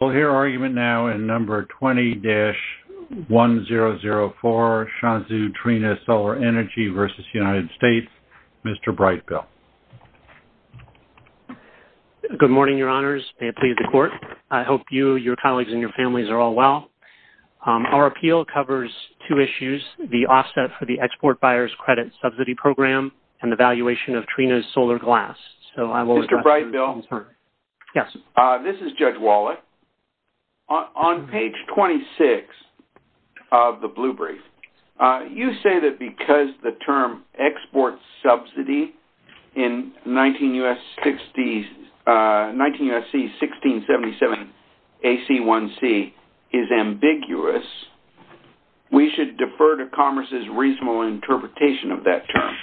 We'll hear argument now in number 20-1004, Shanzhou Trina Solar Energy v. United States, Mr. Brightbill. Good morning, Your Honors. May it please the Court. I hope you, your colleagues, and your families are all well. Our appeal covers two issues, the offset for the Export Buyers Credit Subsidy Program and the valuation of Trina's solar glass, so I will request your concern. Mr. Brightbill? Yes. This is Judge Wallach. On page 26 of the blue brief, you say that because the term export subsidy in 19 U.S.C. 1677 AC1C is ambiguous, we should defer to Commerce's reasonable interpretation of that term,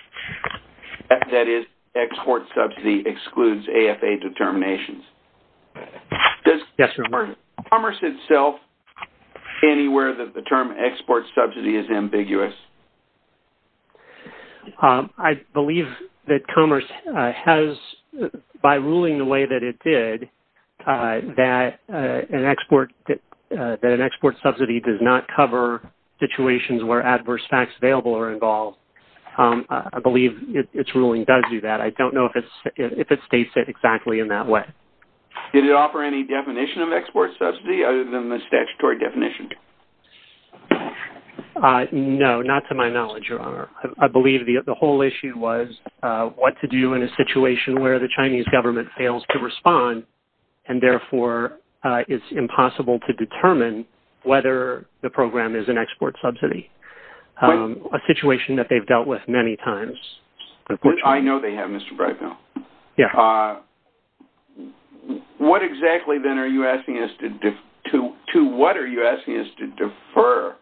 that is, export subsidy excludes AFA determinations. Does Commerce itself say anywhere that the term export subsidy is ambiguous? I believe that Commerce has, by ruling the way that it did, that an export subsidy does not cover situations where adverse facts available are involved. I believe its ruling does do that. I don't know if it states it exactly in that way. Did it offer any definition of export subsidy other than the statutory definition? No, not to my knowledge, Your Honor. I believe the whole issue was what to do in a situation where the Chinese government fails to respond and therefore it's impossible to determine whether the program is an export subsidy, a situation that they've dealt with many times. Which I know they have, Mr. Brightbill. Yes. What exactly then are you asking us to-to what are you asking us to defer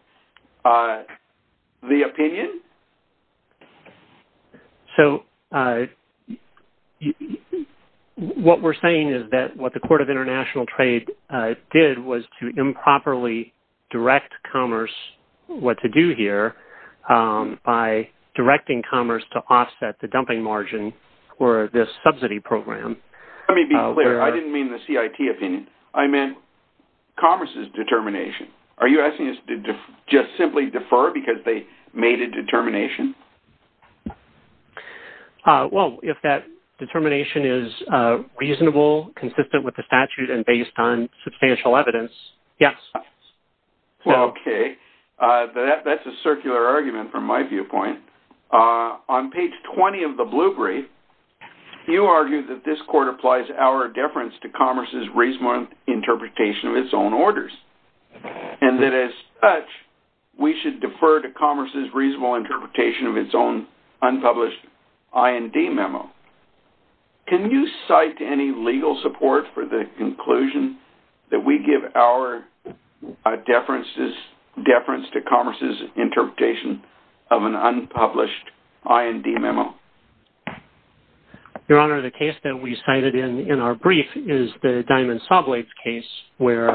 the opinion? So what we're saying is that what the Court of International Trade did was to improperly direct Commerce what to do here by directing Commerce to offset the dumping margin for this subsidy program. Let me be clear. I didn't mean the CIT opinion. I meant Commerce's determination. Are you asking us to just simply defer because they made a determination? Well, if that determination is reasonable, consistent with the statute, and based on substantial evidence, yes. Okay. That's a circular argument from my viewpoint. On page 20 of the blue brief, you argue that this court applies our deference to Commerce's reasonable interpretation of its own orders. And that as such, we should defer to Commerce's reasonable interpretation of its own unpublished IND memo. Can you cite any legal support for the conclusion that we give our deference to Commerce's interpretation of an unpublished IND memo? Your Honor, the case that we cited in our brief is the Diamond Sawblades case, where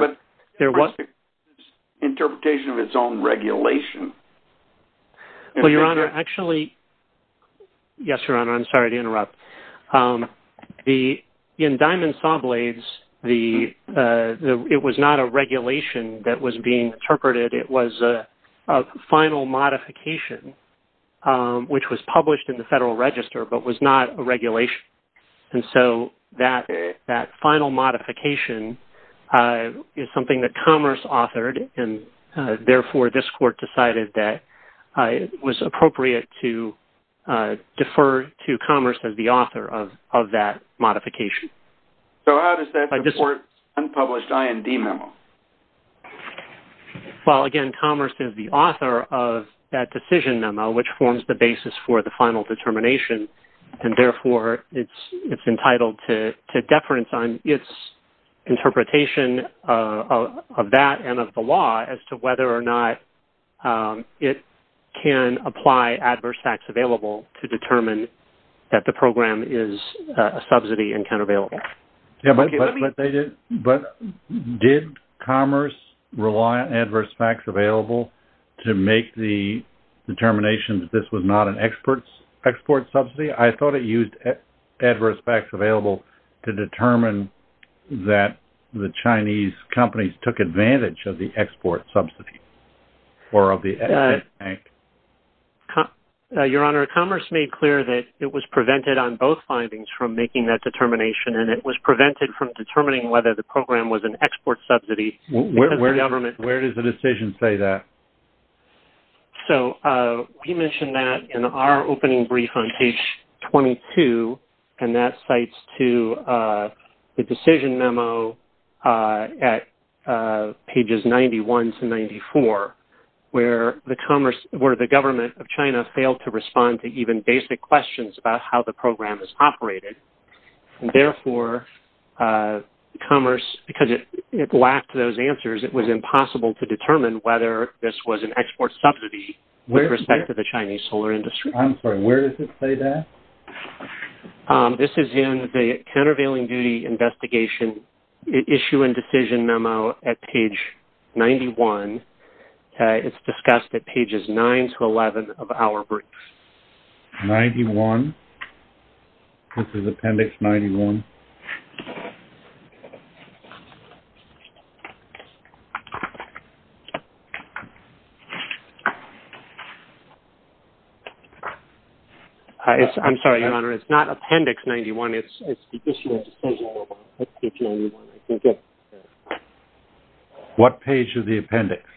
there was- But Commerce's interpretation of its own regulation. Well, Your Honor, actually-yes, Your Honor, I'm sorry to interrupt. In Diamond Sawblades, it was not a regulation that was being interpreted. It was a final modification, which was published in the Federal Register, but was not a regulation. And so, that final modification is something that Commerce authored, and therefore, this court decided that it was appropriate to defer to Commerce as the author of that modification. So how does that support unpublished IND memos? Well, again, Commerce is the author of that decision memo, which forms the basis for the final determination. And therefore, it's entitled to deference on its interpretation of that and of the law as to whether or not it can apply adverse facts available to determine that the program is a subsidy and countervailable. But did Commerce rely on adverse facts available to make the determination that this was not an export subsidy? I thought it used adverse facts available to determine that the Chinese companies took advantage of the export subsidy, or of the export bank. Your Honor, Commerce made clear that it was prevented on both findings from making that determination, and it was prevented from determining whether the program was an export subsidy. Where does the decision say that? So, we mentioned that in our opening brief on page 22, and that cites to the decision memo at pages 91 to 94, where the Commerce-where the government of China failed to respond to even basic questions about how the program is operated. And therefore, Commerce-because it lacked those answers, it was impossible to determine whether this was an export subsidy with respect to the Chinese solar industry. I'm sorry, where does it say that? This is in the Countervailing Duty Investigation Issue and Decision Memo at page 91. It's discussed at pages 9 to 11 of our brief. Appendix 91. This is Appendix 91. I'm sorry, Your Honor, it's not Appendix 91. It's the Decision Memo at page 91. I think it's- What page of the appendix?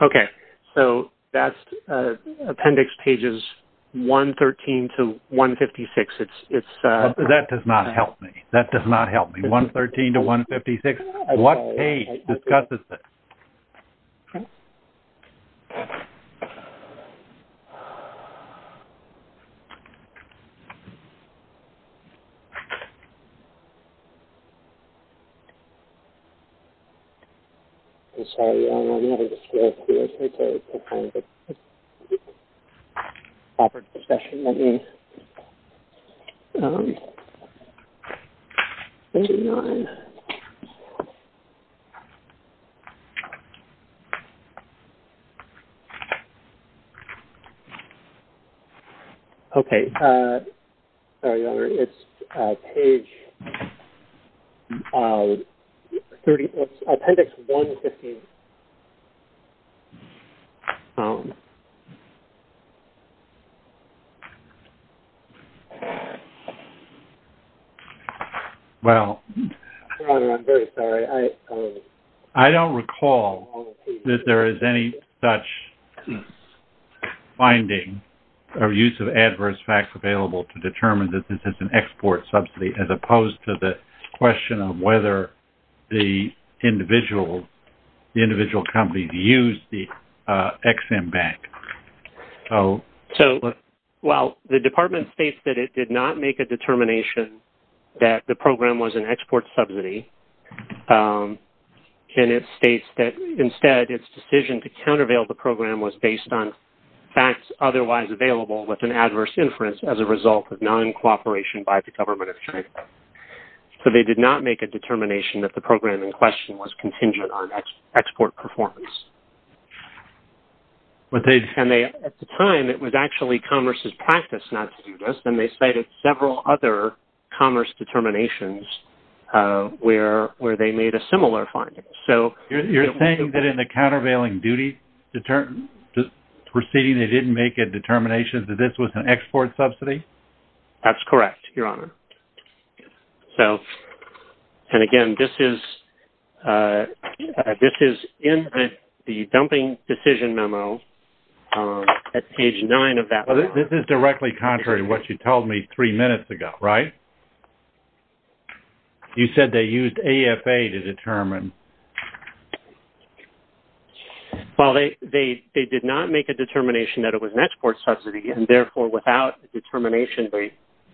Okay. So, that's Appendix pages 113 to 156. It's- That does not help me. That does not help me. 113 to 156. What page discusses this? Okay. I'm sorry, Your Honor, I'm not able to scroll through it. Let me try to find the proper discussion. Let me- Page 9. Okay. Sorry, Your Honor, it's page 30- it's Appendix 115. Well- Your Honor, I'm very sorry. I don't recall that there is any such finding or use of adverse facts available to determine that this is an export subsidy, as opposed to the question of whether the individual companies used the Ex-Im Bank. So- So, while the Department states that it did not make a determination that the program was an export subsidy, and it states that, instead, its decision to countervail the program was based on facts otherwise available with an adverse inference as a result of non-cooperation by the government of China. So, they did not make a determination that the program in question was contingent on export performance. But they- And they- At the time, it was actually commerce's practice not to do this, and they cited several other commerce determinations where they made a similar finding. So- You're saying that in the countervailing duty to the proceeding, they didn't make a determination that this was an export subsidy? That's correct, Your Honor. So- And, again, this is in the dumping decision memo at page 9 of that- Well, this is directly contrary to what you told me three minutes ago, right? You said they used AFA to determine. Well, they did not make a determination that it was an export subsidy, and, therefore, without a determination,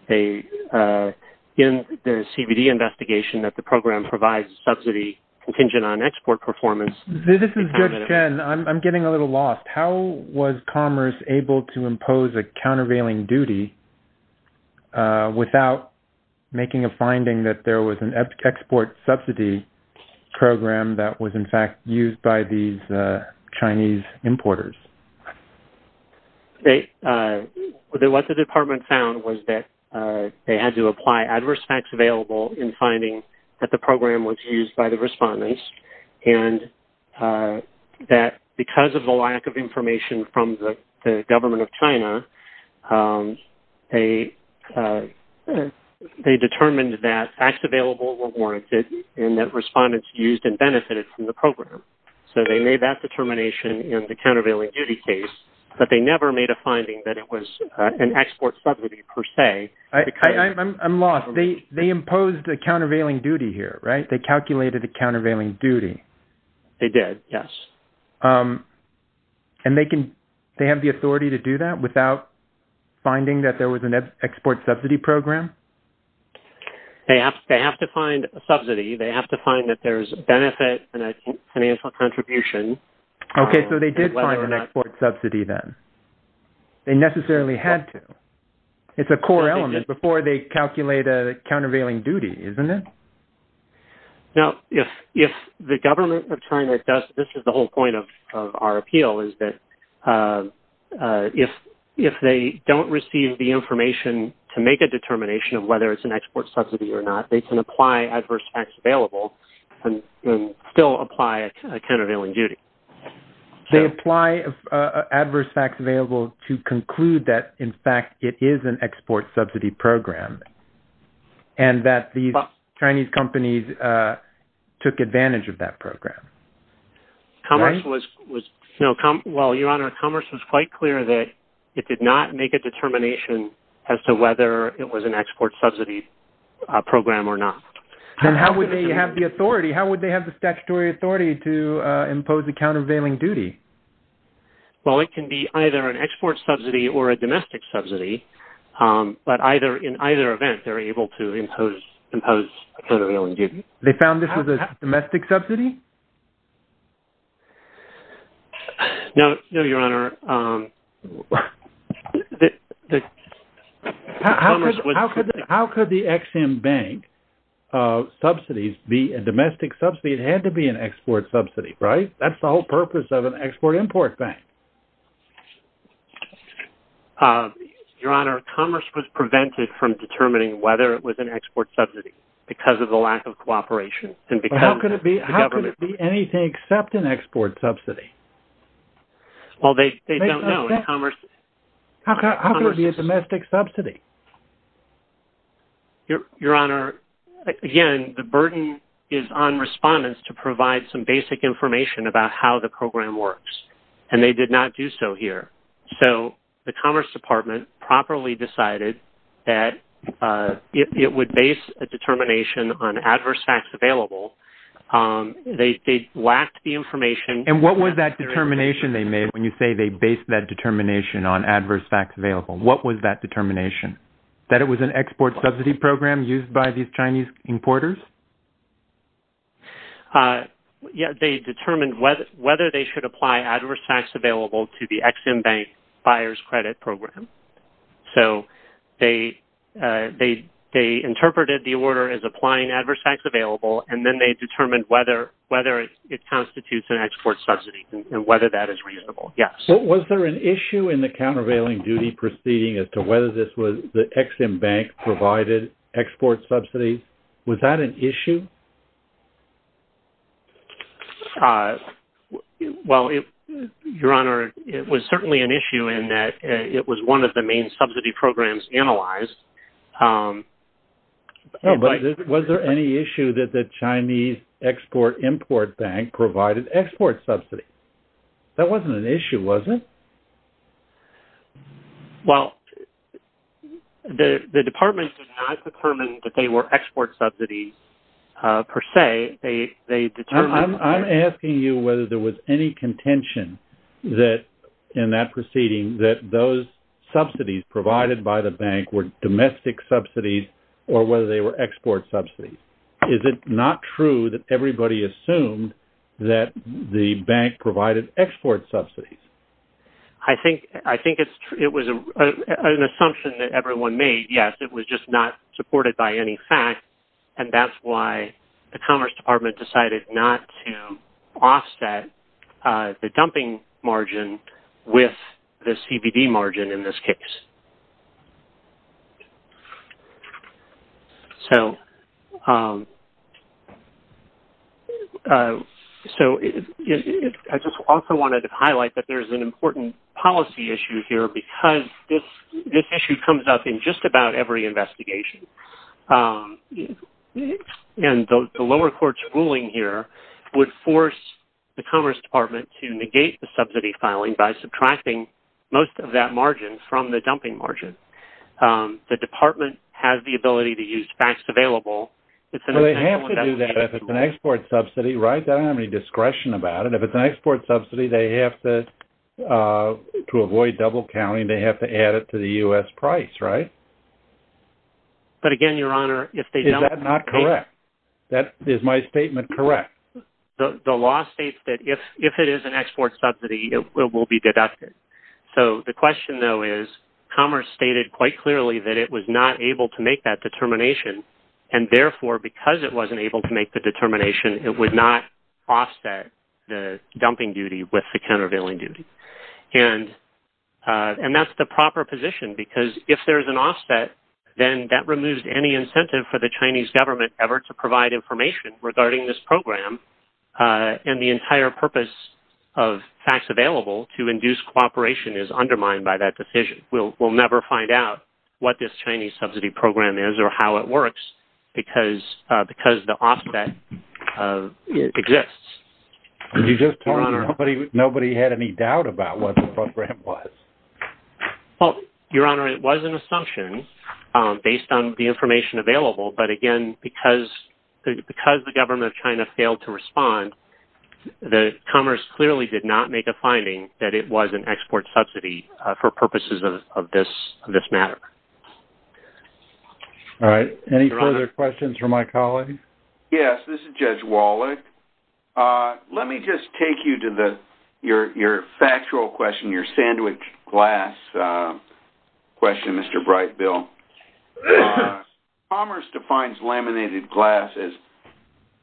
they- In the CBD investigation, that the program provides subsidy contingent on export performance- This is Judge Chen. I'm getting a little lost. How was commerce able to impose a countervailing duty without making a finding that there was an export subsidy program that was, in fact, used by these Chinese importers? They- What the department found was that they had to apply adverse facts available in finding that the program was used by the respondents, and that, because of the lack of information from the government of China, they determined that facts available were warranted and that respondents used and benefited from the program. So they made that determination in the countervailing duty case, but they never made a finding that it was an export subsidy per se. I'm lost. They imposed a countervailing duty here, right? They calculated a countervailing duty. They did, yes. And they can- They have the authority to do that without finding that there was an export subsidy program? They have to find a subsidy. They have to find that there's a benefit and a financial contribution. Okay, so they did find an export subsidy then. They necessarily had to. It's a core element before they calculate a countervailing duty, isn't it? Now, if the government of China does- This is the whole point of our appeal, is that if they don't receive the information to make a determination of whether it's an export subsidy or not, they can apply adverse facts available and still apply a countervailing duty. They apply adverse facts available to conclude that, in fact, it is an export subsidy program and that the Chinese companies took advantage of that program. Commerce was- Well, Your Honor, commerce was quite clear that it did not make a determination as to whether it was an export subsidy program or not. And how would they have the authority? How would they have the statutory authority to impose a countervailing duty? Well, it can be either an export subsidy or a domestic subsidy, but in either event, they're able to impose a countervailing duty. They found this was a domestic subsidy? No, Your Honor. How could the Ex-Im Bank subsidies be a domestic subsidy? It had to be an export subsidy, right? That's the whole purpose of an export-import bank. Your Honor, commerce was prevented from determining whether it was an export subsidy because of the lack of cooperation and because- How could it be anything except an export subsidy? Well, they don't know. How could it be a domestic subsidy? Your Honor, again, the burden is on respondents to provide some basic information about how the program works, and they did not do so here. So the Commerce Department properly decided that it would base a determination on adverse facts available. They lacked the information- And what was that determination they made when you say they based that determination on adverse facts available? What was that determination? That it was an export subsidy program used by these Chinese importers? Yes, they determined whether they should apply adverse facts available to the Ex-Im Bank Buyer's Credit Program. So they interpreted the order as applying adverse facts available, and then they determined whether it constitutes an export subsidy and whether that is reasonable. Yes. Was there an issue in the countervailing duty proceeding as to whether this was the Ex-Im Bank provided export subsidies? Was that an issue? Well, Your Honor, it was certainly an issue in that it was one of the main subsidy programs analyzed. Was there any issue that the Chinese Export-Import Bank provided export subsidies? That wasn't an issue, was it? Well, the Department did not determine that they were export subsidies per se. I'm asking you whether there was any contention that in that proceeding that those subsidies provided by the bank were domestic subsidies or whether they were export subsidies. Is it not true that everybody assumed that the bank provided export subsidies? I think it was an assumption that everyone made. Yes, it was just not supported by any fact, and that's why the Commerce Department decided not to offset the dumping margin with the CBD margin in this case. So I just also wanted to highlight that there's an important policy issue here because this issue comes up in just about every investigation. And the lower court's ruling here would force the Commerce Department to negate the subsidy filing by subtracting most of that margin from the dumping margin. The Department has the ability to use facts available. Well, they have to do that if it's an export subsidy, right? They don't have any discretion about it. If it's an export subsidy, they have to, to avoid double counting, they have to add it to the U.S. price, right? But again, Your Honor, if they don't... Is that not correct? That, is my statement correct? The law states that if, if it is an export subsidy, it will be deducted. So the question though is, Commerce stated quite clearly that it was not able to make that determination. And therefore, because it wasn't able to make the determination, it would not offset the dumping duty with the countervailing duty. And, and that's the proper position because if there's an offset, then that removes any incentive for the Chinese government ever to provide information regarding this program. And the entire purpose of facts available to induce cooperation is undermined by that decision. We'll, we'll never find out what this Chinese subsidy program is or how it works because, because the offset exists. You just told me nobody, nobody had any doubt about what the program was. Well, Your Honor, it was an assumption based on the information available. But again, because, because the government of China failed to respond, the Commerce clearly did not make a finding that it was an export subsidy for purposes of this, of this matter. All right. Any further questions for my colleague? Yes, this is Judge Wallach. Let me just take you to the, your, your factual question, your sandwiched glass question, Mr. Bright, Bill. Commerce defines laminated glass as,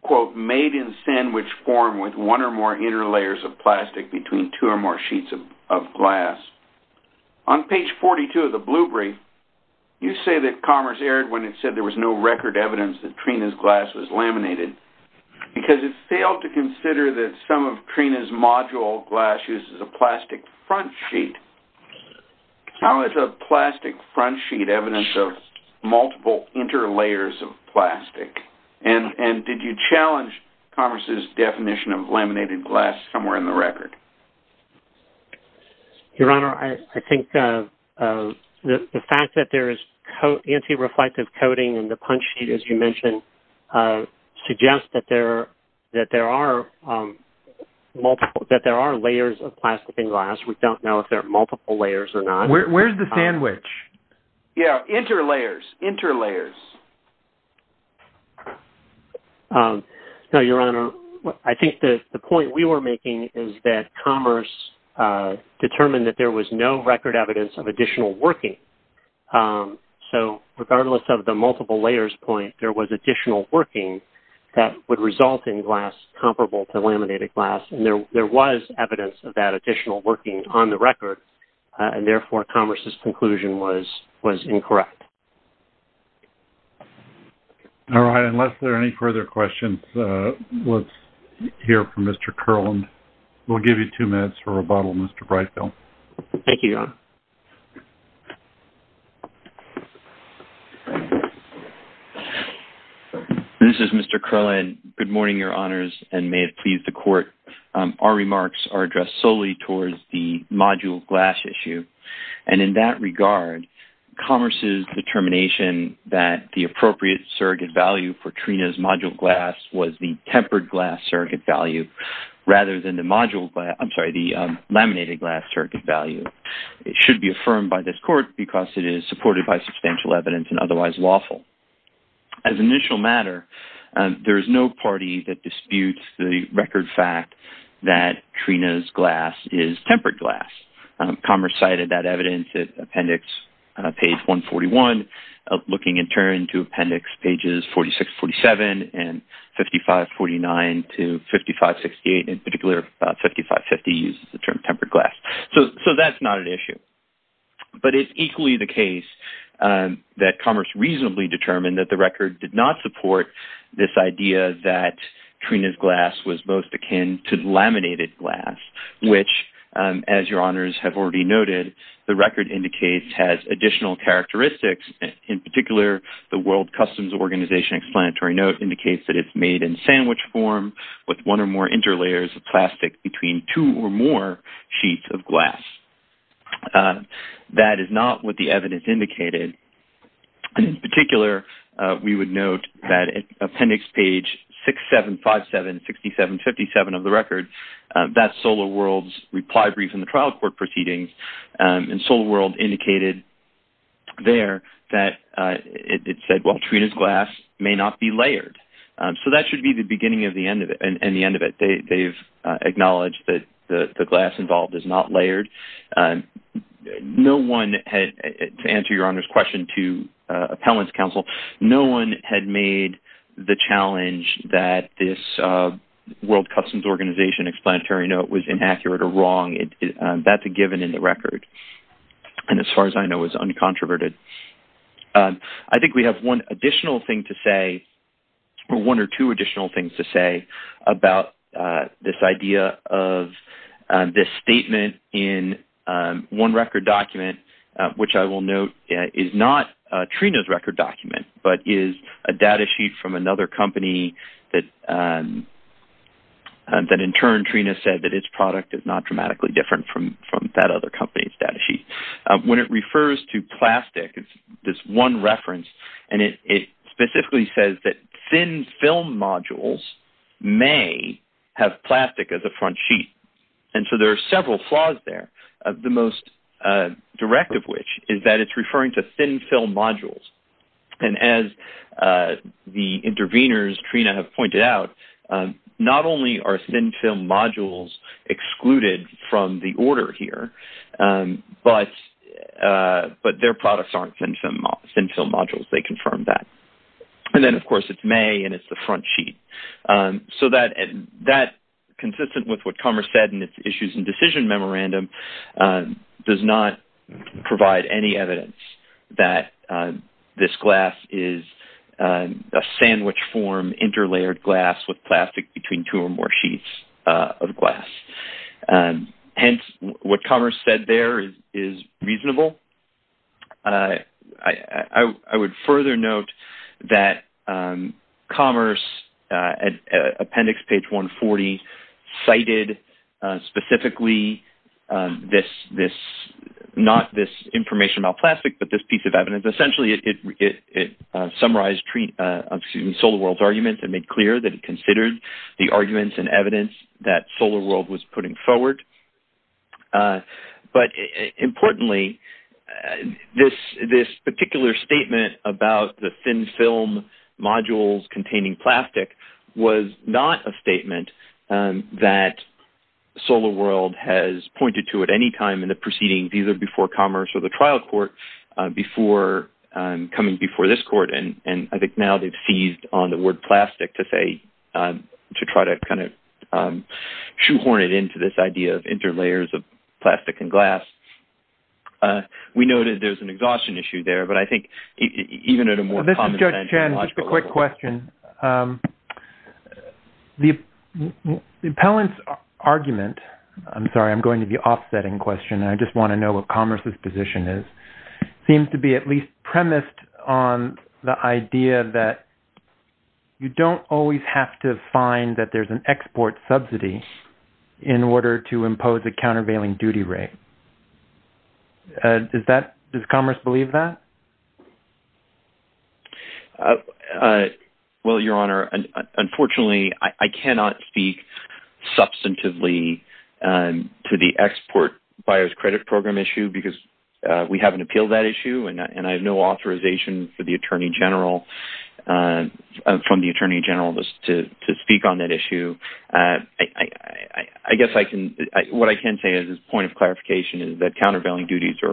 quote, made in sandwich form with one or more inner layers of plastic between two or more sheets of, of glass. On page 42 of the blue brief, you say that Commerce erred when it said there was no record evidence that Trina's glass was laminated because it failed to consider that some of Trina's module glass uses a plastic front sheet. How is a plastic front sheet evidence of multiple interlayers of plastic? And, and did you challenge Commerce's definition of laminated glass somewhere in the record? Your Honor, I, I think the fact that there is anti-reflective coating in the punch sheet, as you mentioned, suggests that there, that there are multiple, that there are layers of plastic in glass. We don't know if there are multiple layers or not. Where, where's the sandwich? Yeah, interlayers, interlayers. No, Your Honor, I think the, the point we were making is that Commerce determined that there was no record evidence of additional working. So regardless of the multiple layers point, there was additional working that would result in glass comparable to laminated glass. There was evidence of that additional working on the record and therefore Commerce's conclusion was, was incorrect. All right, unless there are any further questions, let's hear from Mr. Kerland. We'll give you two minutes for rebuttal, Mr. Breitfeld. Thank you, Your Honor. This is Mr. Kerland. Good morning, Your Honors, and may it please the Court, our remarks are addressed solely towards the module glass issue. And in that regard, Commerce's determination that the appropriate surrogate value for Trina's module glass was the tempered glass surrogate value rather than the module glass, I'm sorry, the laminated glass surrogate value. It should be affirmed by this Court by substantial evidence and otherwise lawful. As an initial matter, there is no party that disputes the record fact that Trina's glass is tempered glass. Commerce cited that evidence at Appendix page 141 looking in turn to Appendix pages 46-47 and 55-49 to 55-68, in particular 55-50 uses the term tempered glass. So that's not an issue. But it's equally the case that Commerce reasonably determined that the record did not support this idea that Trina's glass was both akin to laminated glass, which as your honors have already noted, the record indicates has additional characteristics. In particular, the World Customs Organization explanatory note indicates that it's made in sandwich form with one or more interlayers of plastic between two or more sheets of glass. That is not what the evidence indicated. And in particular, we would note that Appendix page 6-7-5-7-67-57 of the record, that's Solar World's reply brief in the trial court proceedings and Solar World indicated there that it said, well, Trina's glass may not be layered. So that should be the beginning of the end of it. And the end of it, they've acknowledged that the glass involved is not layered. No one had, to answer your honors question to Appellant's counsel, no one had made the challenge that this World Customs Organization explanatory note was inaccurate or wrong. That's a given in the record. And as far as I know, it was uncontroverted. I think we have one additional thing to say, or one or two additional things to say about this idea of this statement in one record document, which I will note is not Trina's record document, but is a data sheet from another company that in turn Trina said that its product is not dramatically different from that other company's data sheet. When it refers to plastic, it's this one reference and it specifically says that thin film modules may have plastic as a front sheet. And so there are several flaws there. The most direct of which is that it's referring to thin film modules. And as the intervenors, Trina, have pointed out, not only are thin film modules excluded from the order here, but their products aren't thin film modules. They confirmed that. And then of course it's May and it's the front sheet. So that consistent with what Commerce said in its issues and decision memorandum does not provide any evidence that this glass is a sandwich form, interlayered glass with plastic between two or more sheets of glass. Hence, what Commerce said there is reasonable. I would further note that Commerce, appendix page 140, cited specifically this, not this information about plastic, but this piece of evidence. Essentially, it summarized SolarWorld's arguments and made clear that it considered the arguments and evidence that SolarWorld was putting forward. But importantly, this particular statement about the thin film modules containing plastic was not a statement that SolarWorld has pointed to at any time in the proceedings, either before Commerce or the trial court before coming before this court. And I think now they've seized on the word plastic to say, to try to kind of shoehorn it into this idea of interlayers of plastic and glass. We know that there's an exhaustion issue there, but I think even at a more... This is Judge Chen, just a quick question. The appellant's argument, I'm sorry, I'm going to the offsetting question, and I just want to know what Commerce's position is, seems to be at least premised on the idea that you don't always have to find that there's an export subsidy in order to impose a countervailing duty rate. Does Commerce believe that? Well, Your Honor, unfortunately, I cannot speak substantively to the export buyer's credit program issue because we haven't appealed that issue and I have no authorization from the attorney general to speak on that issue. as a point of clarification is that countervailing duties are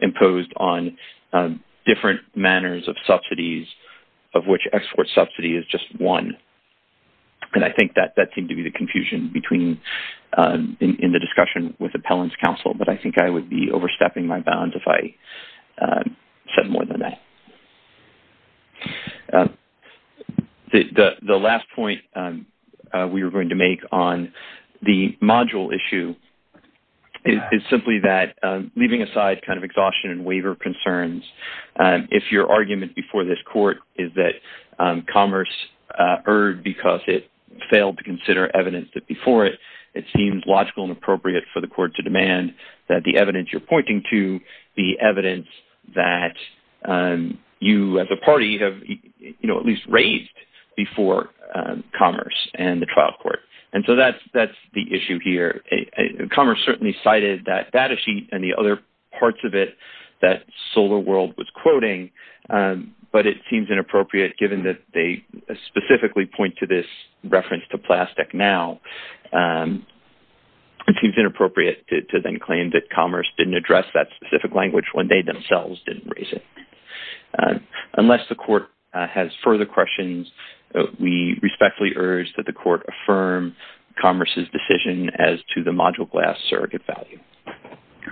imposed on the export different manners of subsidies of which export subsidy is just one. And I think that that seemed to be the confusion in the discussion with appellant's counsel, but I think I would be overstepping my bounds if I said more than that. The last point we were going to make on the module issue is simply that leaving aside kind of exhaustion and waiver concerns, if your argument before this court is that Commerce erred because it failed to consider evidence that before it, it seems logical and appropriate for the court to demand that the evidence you're pointing to, the evidence that you as a party have, you know, at least raised before Commerce and the trial court. And so that's the issue here. Commerce certainly cited that data sheet and the other parts of it that Solar World was quoting, but it seems inappropriate given that they specifically point to this reference to plastic now. It seems inappropriate to then claim that Commerce didn't address that specific language when they themselves didn't raise it. Unless the court has further questions, we respectfully urge that the court affirm Commerce's decision as to the module glass surrogate value.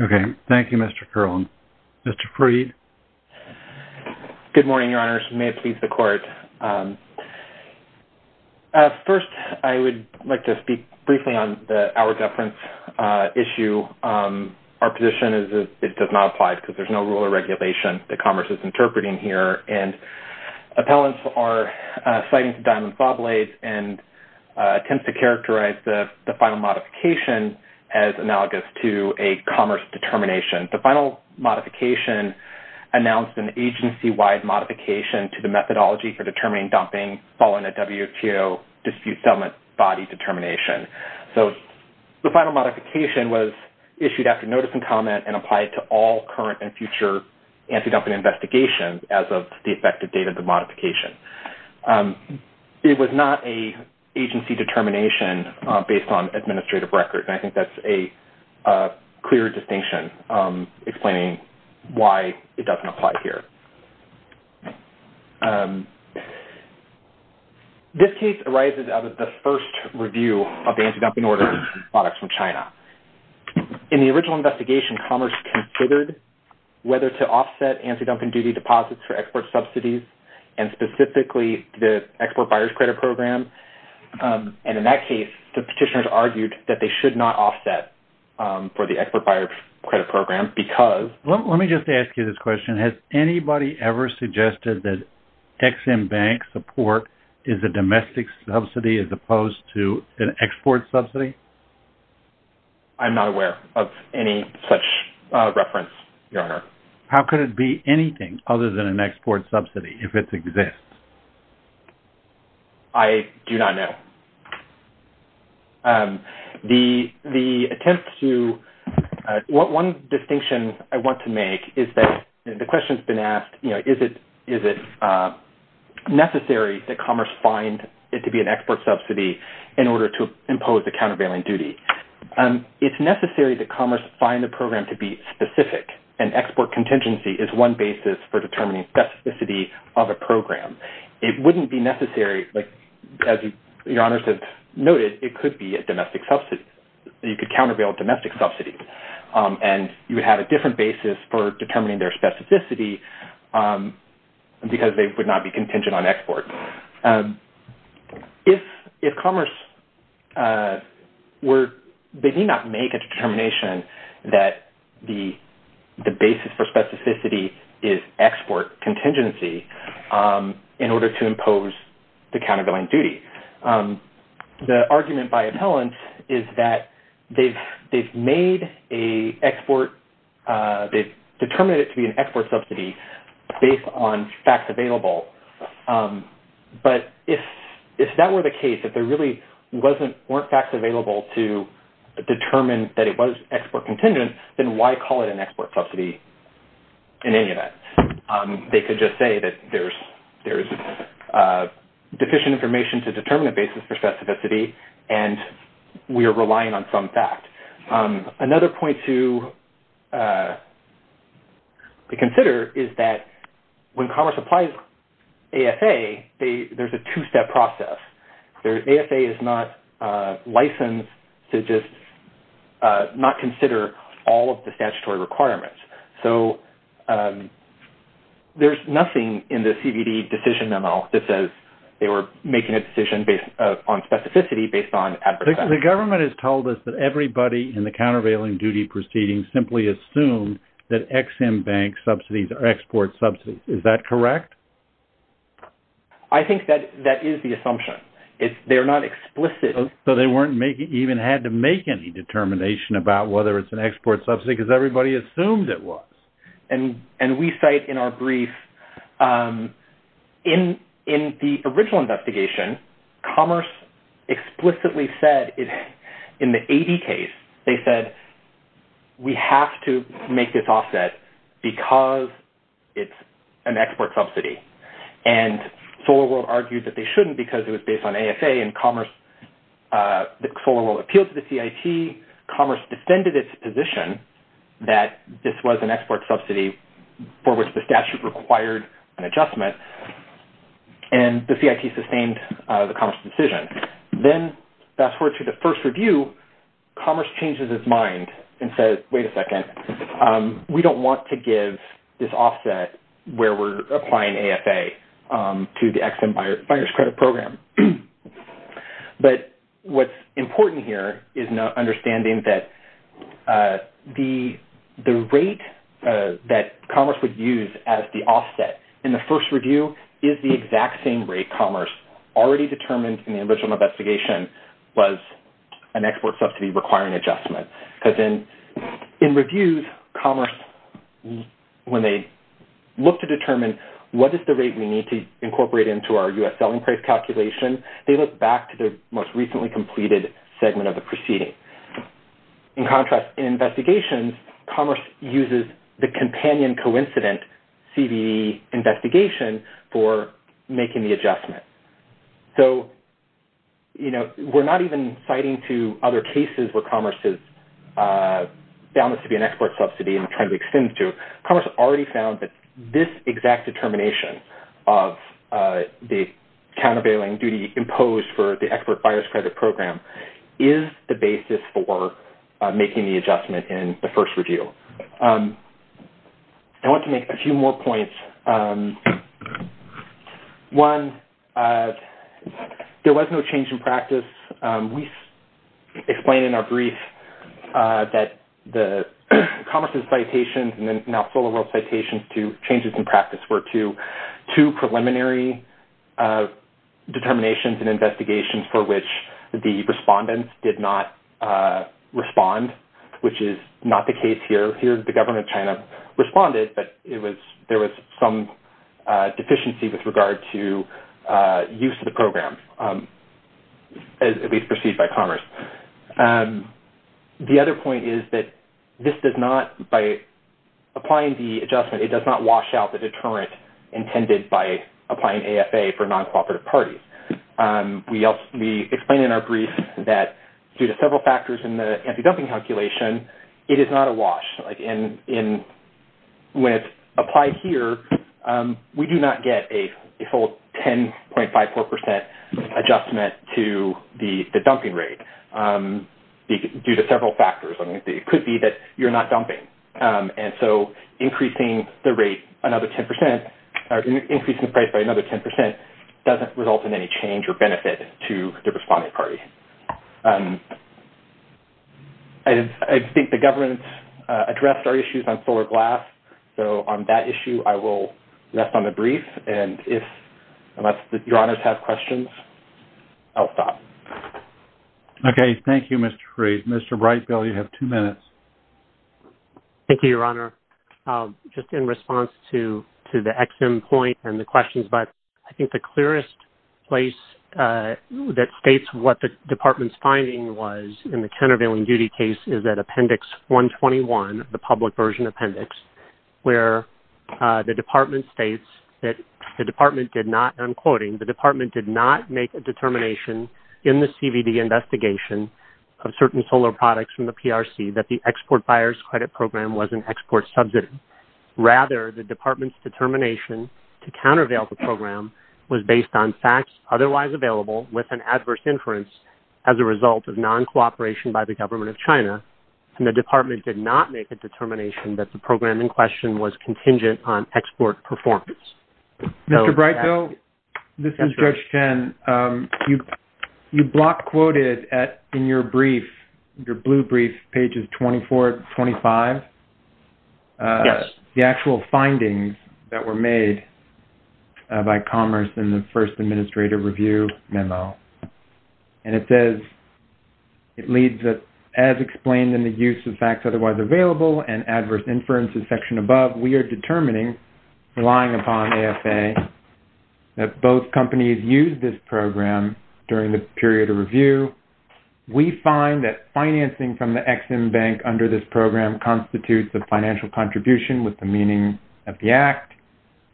OK, thank you, Mr. Kerlin. Mr. Freed. Good morning, Your Honors. May it please the court. First, I would like to speak briefly on the hour deference issue. Our position is it does not apply because there's no rule or regulation that Commerce is interpreting here. And appellants are citing to Diamond Sawblades and tends to characterize the final modification as analogous to a Commerce determination. The final modification announced an agency-wide modification to the methodology for determining dumping following a WTO dispute settlement body determination. So the final modification was issued after notice and comment and applied to all current and future antidumping investigations as of the effective date of the modification. It was not an agency determination based on administrative record. I think that's a clear distinction. Explaining why it doesn't apply here. This case arises out of the first review of the antidumping order products from China. In the original investigation, Commerce considered whether to offset antidumping duty deposits for export subsidies and specifically the export buyer's credit program. And in that case, the petitioners argued that they should not offset for the export buyer's credit program. Let me just ask you this question. Has anybody ever suggested that Ex-Im Bank support is a domestic subsidy as opposed to an export subsidy? I'm not aware of any such reference, Your Honor. How could it be anything other than an export subsidy if it exists? I do not know. The attempt to... One distinction I want to make is that the question has been asked, you know, is it necessary that Commerce find it to be an export subsidy in order to impose the countervailing duty? It's necessary that Commerce find the program to be specific and export contingency is one basis for determining specificity of a program. It wouldn't be necessary, as Your Honors have noted, it could be a domestic subsidy. You could countervail domestic subsidies and you would have a different basis for determining their specificity because they would not be contingent on export. If Commerce were... They need not make a determination that the basis for specificity is export contingency in order to impose the countervailing duty. The argument by appellants is that they've made a export... They've determined it to be an export subsidy based on facts available. But if that were the case, if there really wasn't... weren't facts available to determine that it was export contingent, then why call it an export subsidy in any event? They could just say there's deficient information to determine the basis for specificity and we are relying on some fact. Another point to consider is that when Commerce applies AFA, there's a two-step process. AFA is not licensed to just not consider all of the statutory requirements. So there's nothing in the CBD decision memo that says they were making a decision based on specificity based on adverse effects. The government has told us that everybody in the countervailing duty proceeding simply assumed that XM Bank subsidies are export subsidies. Is that correct? I think that is the assumption. They're not explicit. So they weren't making... even had to make any determination about whether it's an export subsidy because everybody assumed it was. And we cite in our brief, in the original investigation, Commerce explicitly said in the AD case, they said we have to make this offset because it's an export subsidy. And SolarWorld argued that they shouldn't because it was based on AFA and Commerce... the SolarWorld appealed to the CIT, Commerce distended its position that this was an export subsidy for which the statute required an adjustment. And the CIT sustained the Commerce decision. Then fast forward to the first review, Commerce changes its mind and says, wait a second, we don't want to give this offset where we're applying AFA to the XM Buyer's Credit Program. But what's important here is understanding that the rate that Commerce would use as the offset in the first review is the exact same rate Commerce already determined in the original investigation was an export subsidy requiring adjustment. Because in reviews, Commerce, when they look to determine what is the rate we need to incorporate into our US selling price calculation, they look back to their most recently completed segment of the proceeding. In contrast, in investigations, Commerce uses the companion coincident CBE investigation for making the adjustment. So, you know, we're not even citing to other cases where Commerce has found this to be an export subsidy and trying to extend it to. Commerce already found that this exact determination of the countervailing duty imposed for the export buyer's credit program is the basis for making the adjustment in the first review. I want to make a few more points. One, there was no change in practice. We explained in our brief that the Commerce's citations and then now SolarWorld's citations to changes in practice were to two preliminary determinations and investigations for which the respondents did not respond, which is not the case here. Here, the government of China responded, but there was some deficiency with regard to use of the program, as at least perceived by Commerce. The other point is that this does not, by applying the adjustment, it does not wash out the deterrent intended by applying AFA for non-cooperative parties. We explained in our brief that due to several factors in the anti-dumping calculation, it is not a wash. When it's applied here, we do not get a full 10.54% adjustment to the dumping rate due to several factors. I mean, it could be that you're not dumping. And so increasing the rate another 10% or increasing the price by another 10% doesn't result in any change or benefit to the responding party. I think the government addressed our issues on solar glass. So on that issue, I will rest on the brief. And if your honors have questions, I'll stop. Okay. Thank you, Mr. Freed. Mr. Brightfield, you have two minutes. Thank you, your honor. Just in response to the XM point and the questions, I think the clearest place that states what the department's finding was in the countervailing duty case is that appendix 121, the public version appendix, where the department states that the department did not, I'm quoting, the department did not make a determination in the CVD investigation of certain solar products from the PRC that the export buyers credit program was an export subsidy. Rather, the department's determination to countervail the program was based on facts otherwise available with an adverse inference as a result of non-cooperation by the government of China. And the department did not make a determination that the program in question was contingent on export performance. Mr. Brightfield, this is Judge Chen. You block quoted in your brief, your blue brief, pages 24 to 25, the actual findings that were made by Commerce in the first administrative review memo. And it says it leads that as explained in the use of facts otherwise available and adverse inferences section above, we are determining, relying upon AFA, that both companies use this program during the period of review. We find that financing from the Ex-Im Bank under this program constitutes the financial contribution with the meaning of the act.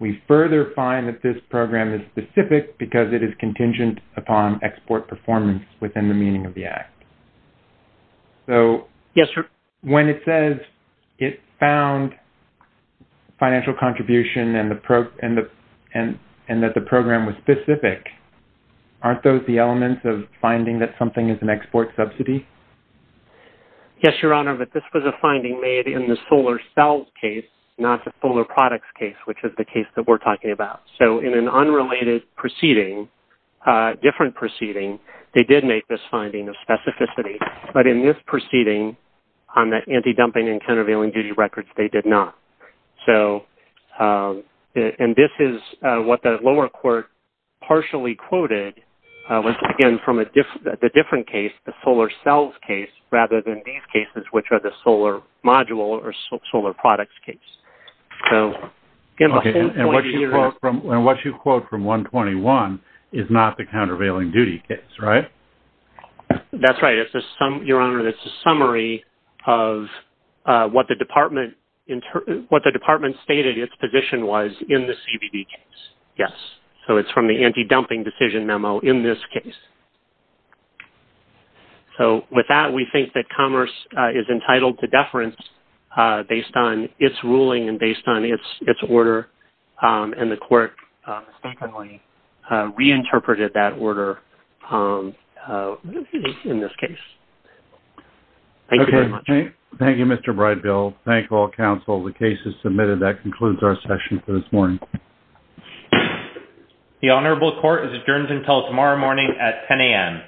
We further find that this program is specific because it is contingent upon export performance within the meaning of the act. So when it says it found financial contribution and that the program was specific, aren't those the elements of finding that something is an export subsidy? Yes, Your Honor, but this was a finding made in the solar cells case, not the solar products case, which is the case that we're talking about. So in an unrelated proceeding, different proceeding, they did make this finding of specificity. But in this proceeding on the anti-dumping and countervailing duty records, they did not. So, and this is what the lower court partially quoted, was again from a different case, the solar cells case, rather than these cases, which are the solar module or solar products case. And what you quote from 121 is not the countervailing duty case, right? That's right. It's a summary, Your Honor, it's a summary of what the department stated its position was in the CBB case. Yes. So it's from the anti-dumping decision memo in this case. So with that, we think that Commerce is entitled to deference based on its ruling and based on its order. And the court mistakenly reinterpreted that order in this case. Thank you very much. Thank you, Mr. Brightbill. Thank all counsel. The case is submitted. That concludes our session for this morning. The honorable court is adjourned until tomorrow morning at 10 a.m.